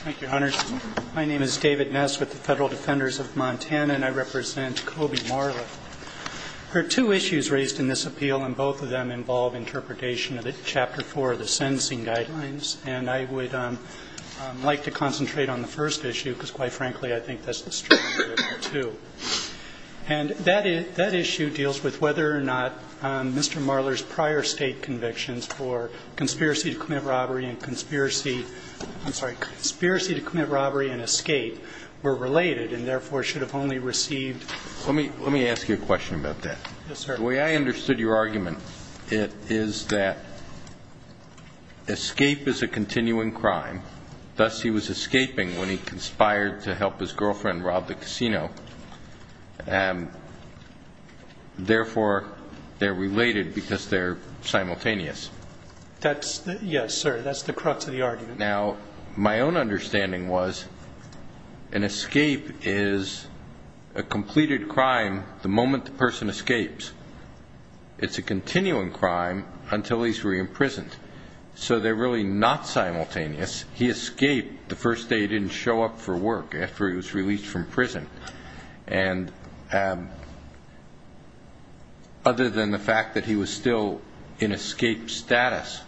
Thank you, Hunters. My name is David Ness with the Federal Defenders of Montana, and I represent Kobe Marler. There are two issues raised in this appeal, and both of them involve interpretation of Chapter 4 of the Sentencing Guidelines. And I would like to concentrate on the first issue because, quite frankly, I think that's the strength of it, too. And that issue deals with whether or not Mr. Marler's prior state convictions for conspiracy to commit robbery and escape were related and, therefore, should have only received. Let me ask you a question about that. Yes, sir. The way I understood your argument is that escape is a continuing crime. Thus, he was escaping when he conspired to help his girlfriend rob the casino. Therefore, they're related because they're simultaneous. Yes, sir. That's the crux of the argument. Now, my own understanding was an escape is a completed crime the moment the person escapes. It's a continuing crime until he's re-imprisoned. So they're really not simultaneous. He escaped the first day he didn't show up for work, after he was released from prison. And other than the fact that he was still in escape status,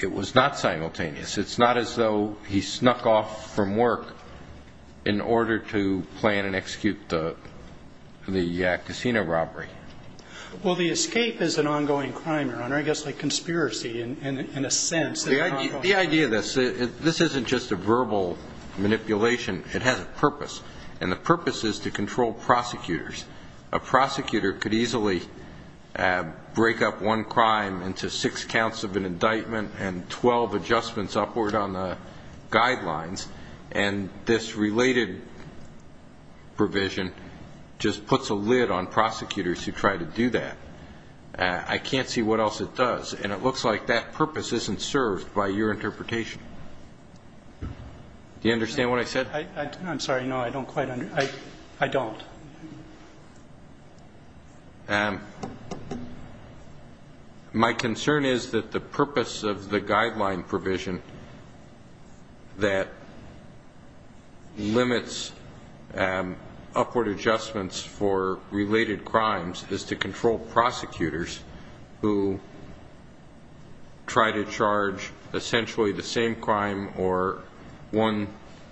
it was not simultaneous. It's not as though he snuck off from work in order to plan and execute the casino robbery. Well, the escape is an ongoing crime, Your Honor, I guess like conspiracy in a sense. The idea of this, this isn't just a verbal manipulation. It has a purpose, and the purpose is to control prosecutors. A prosecutor could easily break up one crime into six counts of an indictment and 12 adjustments upward on the guidelines, and this related provision just puts a lid on prosecutors who try to do that. I can't see what else it does, and it looks like that purpose isn't served by your interpretation. Do you understand what I said? I'm sorry. No, I don't quite understand. I don't. My concern is that the purpose of the guideline provision that limits upward adjustments for related crimes is to control prosecutors who try to charge essentially the same crime or one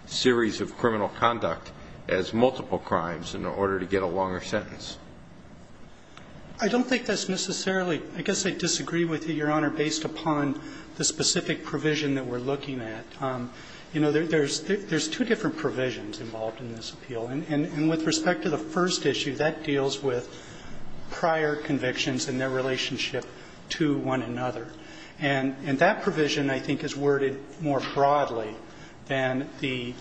series of criminal conduct as multiple crimes in order to get a longer sentence. I don't think that's necessarily. I guess I disagree with you, Your Honor, based upon the specific provision that we're looking at. You know, there's two different provisions involved in this appeal, and with respect to the first issue, that deals with prior convictions and their relationship to one another. And that provision, I think, is worded more broadly than the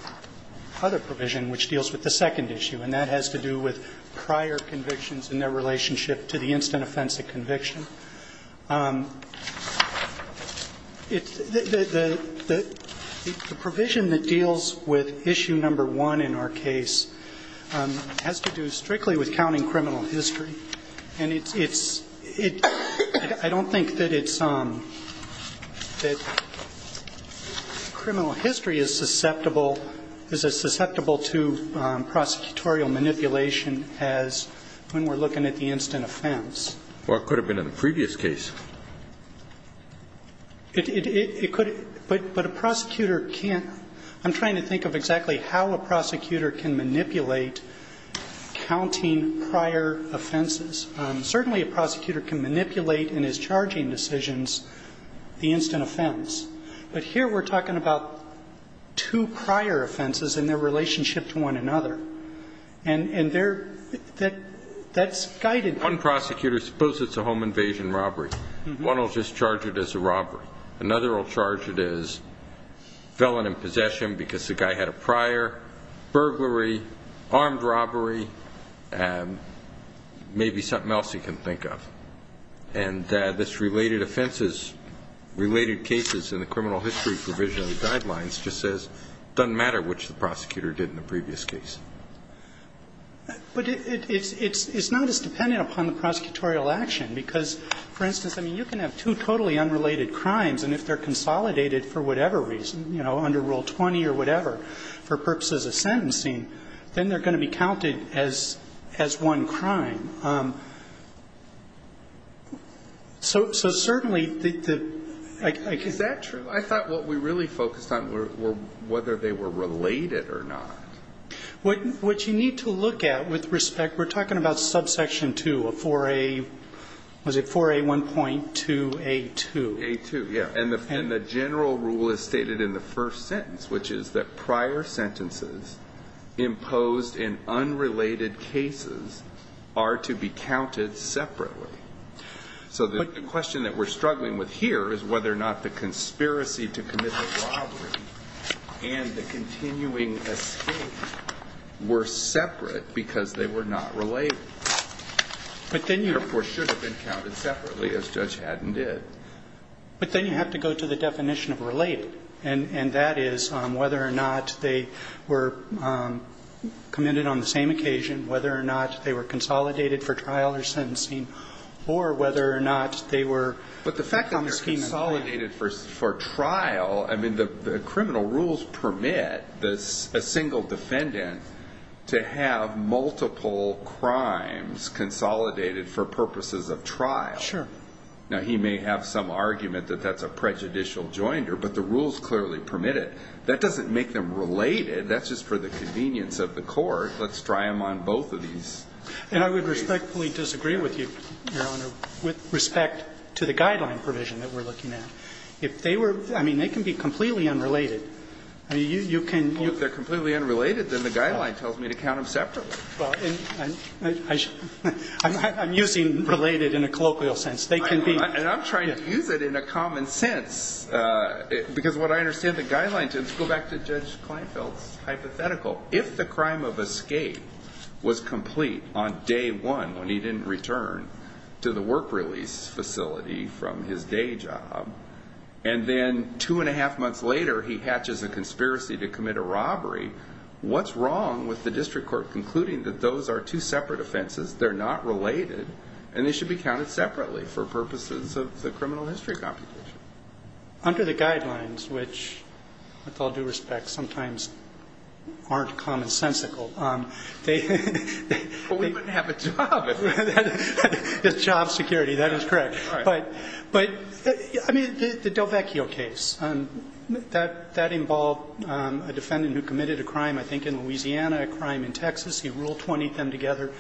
other provision, which deals with the second issue, and that has to do with prior convictions and their relationship to the instant offensive conviction. The provision that deals with issue number one in our case has to do strictly with counting criminal history. And it's – I don't think that it's – that criminal history is susceptible – is as susceptible to prosecutorial manipulation as when we're looking at the instant offense. Or it could have been in the previous case. It could – but a prosecutor can't – I'm trying to think of exactly how a prosecutor can manipulate counting prior offenses. Certainly, a prosecutor can manipulate in his charging decisions the instant offense. But here we're talking about two prior offenses and their relationship to one another. And they're – that's guided. One prosecutor – suppose it's a home invasion robbery. One will just charge it as a robbery. Another will charge it as felon in possession because the guy had a prior, burglary, armed robbery, maybe something else he can think of. And this related offenses – related cases in the criminal history provision of the guidelines just says it doesn't matter which the prosecutor did in the previous case. But it's not as dependent upon the prosecutorial action because, for instance, I mean, you can have two totally unrelated crimes, and if they're consolidated for whatever reason, you know, under Rule 20 or whatever, for purposes of sentencing, then they're going to be counted as one crime. So certainly, the – I can't – Is that true? I thought what we really focused on were whether they were related or not. What you need to look at with respect – we're talking about subsection 2 of 4A – was it 4A1.2A2? A2, yeah. And the general rule is stated in the first sentence, which is that prior sentences imposed in unrelated cases are to be counted separately. So the question that we're struggling with here is whether or not the conspiracy to commit the robbery and the continuing escape were separate because they were not related. But then you – Therefore, should have been counted separately, as Judge Haddon did. But then you have to go to the definition of related. And that is whether or not they were committed on the same occasion, whether or not they were consolidated for trial or sentencing, or whether or not they were – But the fact that they're consolidated for trial – I mean, the criminal rules permit a single defendant to have multiple crimes consolidated for purposes of trial. Sure. Now, he may have some argument that that's a prejudicial joinder, but the rules clearly permit it. That doesn't make them related. That's just for the convenience of the court. Let's try them on both of these. And I would respectfully disagree with you, Your Honor, with respect to the guideline provision that we're looking at. If they were – I mean, they can be completely unrelated. I mean, you can – If they're completely unrelated, then the guideline tells me to count them separately. I'm using related in a colloquial sense. They can be – And I'm trying to use it in a common sense, because what I understand the guideline Let's go back to Judge Kleinfeld's hypothetical. If the crime of escape was complete on day one when he didn't return to the work release facility from his day job, and then two and a half months later he hatches a conspiracy to commit a robbery, what's wrong with the district court concluding that those are two separate offenses, they're not related, and they should be counted separately for purposes of the criminal history computation? Under the guidelines, which, with all due respect, sometimes aren't commonsensical, they – But we wouldn't have a job. Job security. That is correct. All right. But, I mean, the DelVecchio case, that involved a defendant who committed a crime, I think, in Louisiana, a crime in Texas. He ruled 20 of them together.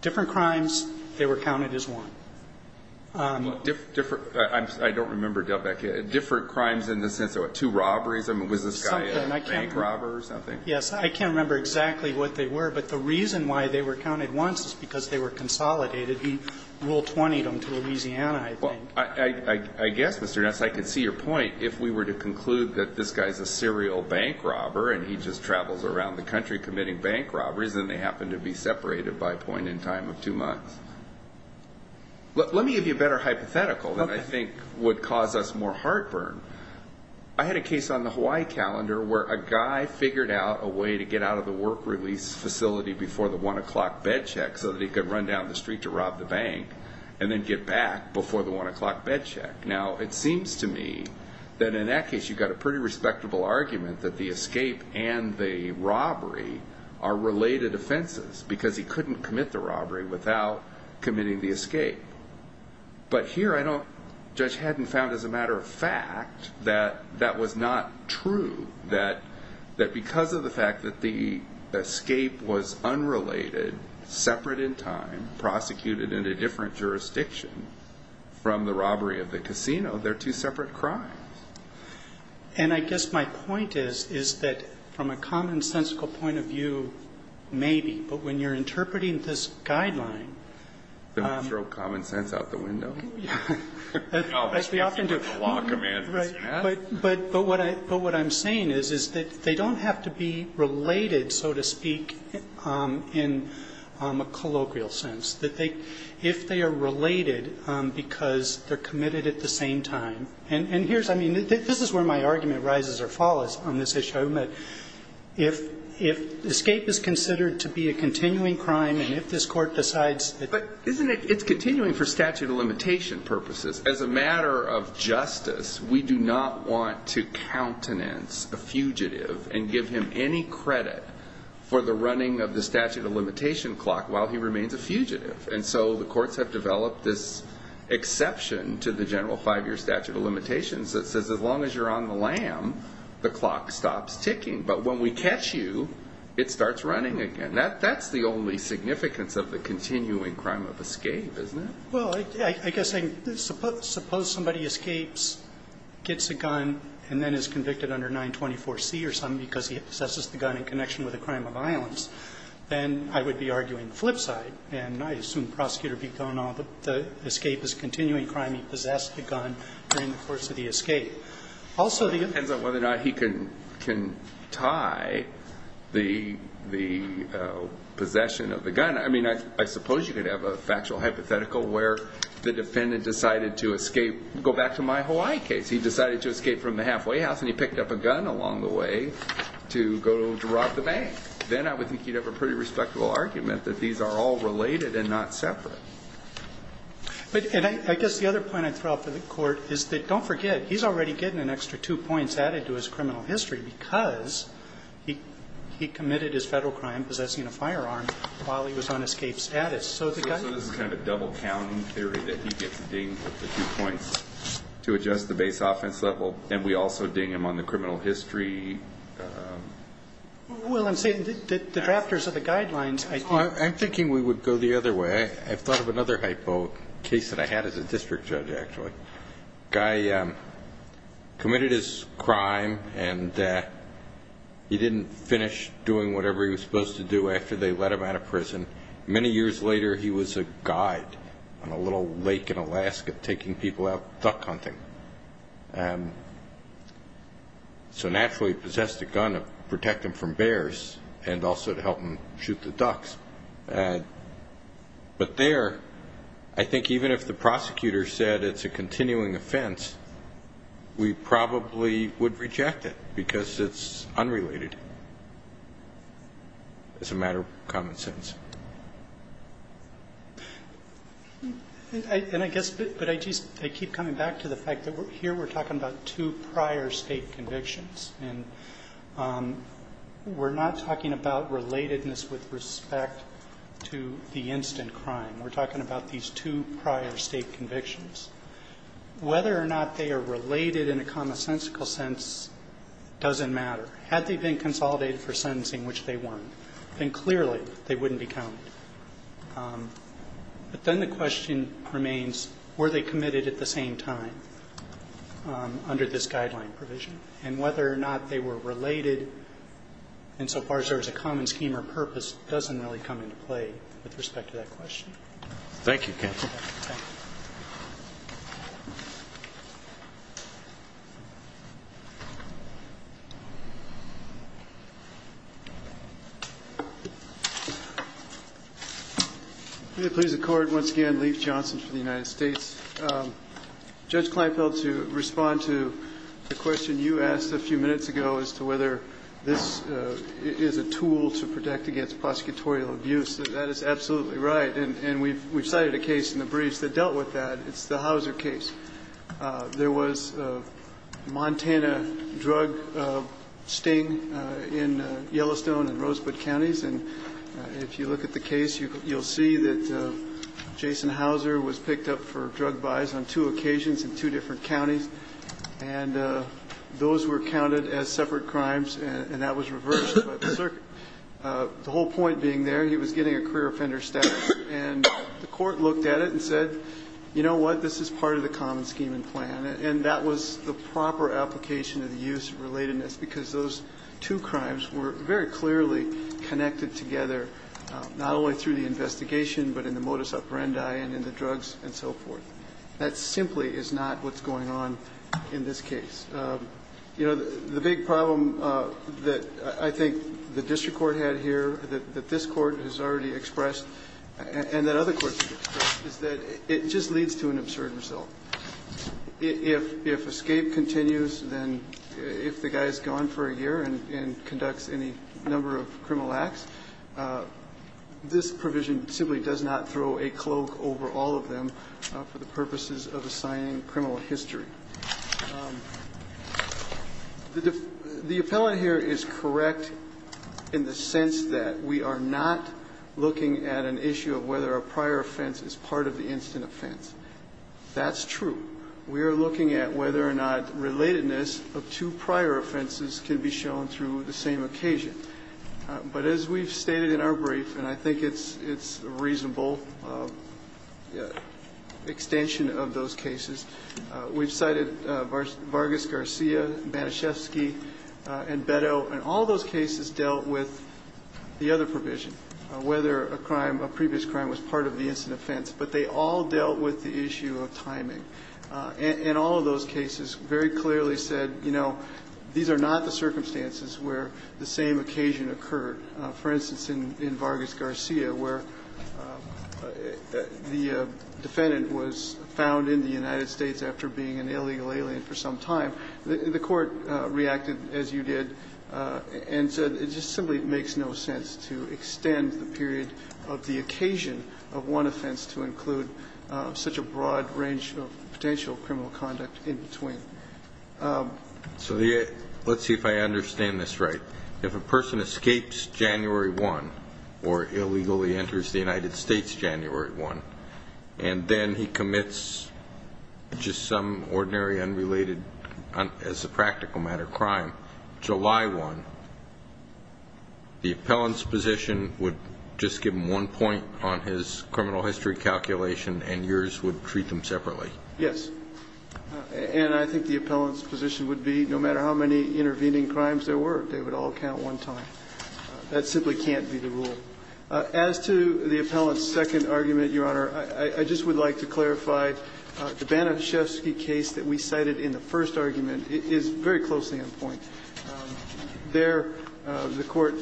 Different crimes, they were counted as one. I don't remember DelVecchio. Different crimes in the sense of, what, two robberies? I mean, was this guy a bank robber or something? Yes. I can't remember exactly what they were, but the reason why they were counted once is because they were consolidated. He ruled 20 of them to Louisiana, I think. I guess, Mr. Ness, I can see your point. If we were to conclude that this guy's a serial bank robber and he just travels around the country committing bank robberies, then they happen to be separated by a point in time of two months. Let me give you a better hypothetical that I think would cause us more heartburn. I had a case on the Hawaii calendar where a guy figured out a way to get out of the work release facility before the 1 o'clock bed check so that he could run down the street to rob the bank and then get back before the 1 o'clock bed check. Now, it seems to me that in that case you've got a pretty respectable argument that the escape and the robbery are related offenses because he couldn't commit the robbery without committing the escape. But here, I don't, Judge Haddon found as a matter of fact that that was not true, that because of the fact that the escape was unrelated, separate in time, prosecuted in a different jurisdiction from the robbery of the casino, they're two separate crimes. And I guess my point is, is that from a commonsensical point of view, maybe. But when you're interpreting this guideline... Don't throw common sense out the window. As we often do. But what I'm saying is that they don't have to be related, so to speak, in a colloquial sense. If they are related because they're committed at the same time. And here's, I mean, this is where my argument rises or falls on this issue. If escape is considered to be a continuing crime and if this Court decides... But isn't it, it's continuing for statute of limitation purposes. As a matter of justice, we do not want to countenance a fugitive and give him any credit for the running of the statute of limitation clock while he remains a fugitive. And so the courts have developed this exception to the general five-year statute of limitations that says as long as you're on the lam, the clock stops ticking. But when we catch you, it starts running again. That's the only significance of the continuing crime of escape, isn't it? Well, I guess suppose somebody escapes, gets a gun, and then is convicted under 924C or something because he possesses the gun in connection with a crime of violence. Then I would be arguing the flip side. And I assume the prosecutor would be going on that the escape is a continuing crime. He possessed the gun during the course of the escape. Also, the... It depends on whether or not he can tie the possession of the gun. I mean, I suppose you could have a factual hypothetical where the defendant decided to escape, go back to my Hawaii case. He decided to escape from the halfway house and he picked up a gun along the way to go drop the bag. Then I would think you'd have a pretty respectable argument that these are all related and not separate. But I guess the other point I'd throw out for the court is that don't forget, he's already getting an extra two points added to his criminal history because he committed his federal crime possessing a firearm while he was on escape status. So this is kind of a double-counting theory that he gets dinged with the two points to adjust the base offense level, and we also ding him on the criminal history... Well, I'm saying that the drafters of the guidelines, I think... I'm thinking we would go the other way. I've thought of another hypo case that I had as a district judge, actually. A guy committed his crime and he didn't finish doing whatever he was supposed to do after they let him out of prison. Many years later, he was a guide on a little lake in Alaska taking people out duck hunting. So naturally, he possessed a gun to protect him from bears and also to help him shoot the ducks. But there, I think even if the prosecutor said it's a continuing offense, we probably would reject it because it's unrelated. It's a matter of common sense. And I guess, but I just keep coming back to the fact that here we're talking about two prior State convictions, and we're not talking about relatedness with respect to the instant crime. We're talking about these two prior State convictions. Whether or not they are related in a commonsensical sense doesn't matter. Had they been consolidated for sentencing, which they weren't, then clearly they wouldn't be counted. But then the question remains, were they committed at the same time under this guideline provision? And whether or not they were related insofar as there was a common scheme or purpose doesn't really come into play with respect to that question. Thank you, counsel. May it please the Court, once again, Leif Johnson for the United States. Judge Kleinfeld, to respond to the question you asked a few minutes ago as to whether this is a tool to protect against prosecutorial abuse, that is absolutely right. And we've cited a case in the briefs that dealt with that. It's the Hauser case. There was a Montana drug sting in Yellowstone and Rosebud counties. And if you look at the case, you'll see that Jason Hauser was picked up for drug buys on two occasions in two different counties. And those were counted as separate crimes, and that was reversed by the circuit. The whole point being there, he was getting a career offender status, and the Court looked at it and said, you know what, this is part of the common scheme and plan. And that was the proper application of the use of relatedness, because those two crimes were very clearly connected together, not only through the investigation, but in the modus operandi and in the drugs and so forth. That simply is not what's going on in this case. The big problem that I think the district court had here, that this Court has already expressed and that other courts have expressed, is that it just leads to an absurd result. If escape continues, then if the guy's gone for a year and conducts any number of criminal acts, this provision simply does not throw a cloak over all of them for the purposes of assigning criminal history. The appellant here is correct in the sense that we are not looking at an issue of whether a prior offense is part of the instant offense. That's true. We are looking at whether or not relatedness of two prior offenses can be shown through the same occasion. But as we've stated in our brief, and I think it's a reasonable extension of those cases, we've cited Vargas-Garcia, Banaszewski, and Beto, and all those cases dealt with the other provision, whether a crime, a previous crime, was part of the instant offense. But they all dealt with the issue of timing. And all of those cases very clearly said, you know, these are not the circumstances where the same occasion occurred. For instance, in Vargas-Garcia, where the defendant was found in the incident in the United States after being an illegal alien for some time, the Court reacted as you did and said it just simply makes no sense to extend the period of the occasion of one offense to include such a broad range of potential criminal conduct in between. So let's see if I understand this right. If a person escapes January 1 or illegally enters the United States January 1 and then he commits just some ordinary unrelated as a practical matter crime July 1, the appellant's position would just give him one point on his criminal history calculation and yours would treat them separately? Yes. And I think the appellant's position would be no matter how many intervening crimes there were, they would all count one time. That simply can't be the rule. As to the appellant's second argument, Your Honor, I just would like to clarify the Banaszewski case that we cited in the first argument is very closely in point. There the Court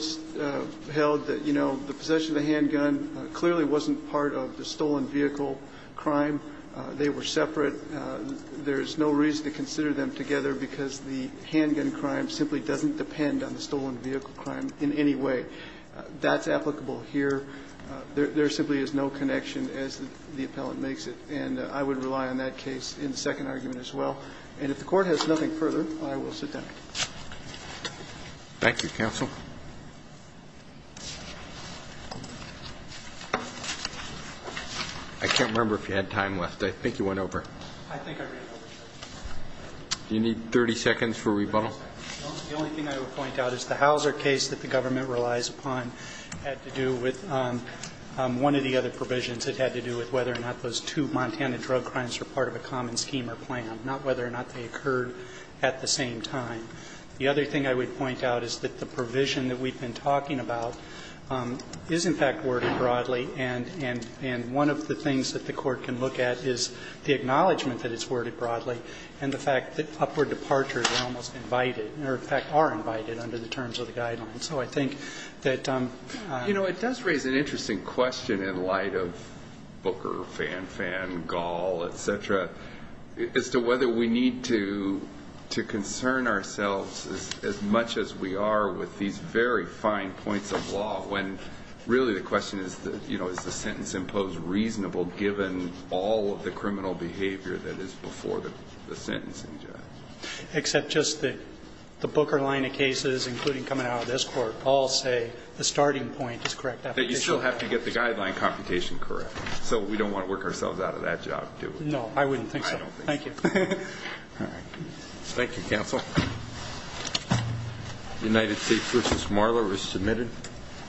held that, you know, the possession of the handgun clearly wasn't part of the stolen vehicle crime. They were separate. There's no reason to consider them together because the handgun crime simply doesn't depend on the stolen vehicle crime in any way. That's applicable here. There simply is no connection as the appellant makes it. And I would rely on that case in the second argument as well. And if the Court has nothing further, I will sit down. Thank you, counsel. I can't remember if you had time left. I think you went over. I think I ran over. Do you need 30 seconds for rebuttal? The only thing I would point out is the Hauser case that the government relies upon had to do with one of the other provisions. It had to do with whether or not those two Montana drug crimes were part of a common scheme or plan, not whether or not they occurred at the same time. The other thing I would point out is that the provision that we've been talking about is, in fact, worded broadly. And one of the things that the Court can look at is the acknowledgment that it's worded broadly and the fact that upward departures are almost invited or, in fact, are invited under the terms of the guidelines. So I think that you know it does raise an interesting question in light of Booker, Fan Fan, Gall, et cetera, as to whether we need to concern ourselves as much as we are with these very fine points of law when really the question is, you know, is the sentence imposed reasonable given all of the criminal behavior that is before the sentencing judge? Except just that the Booker line of cases, including coming out of this court, all say the starting point is correct. But you still have to get the guideline computation correct. So we don't want to work ourselves out of that job, do we? No, I wouldn't think so. I don't think so. Thank you. All right. Thank you, counsel. United States v. Marler is submitted.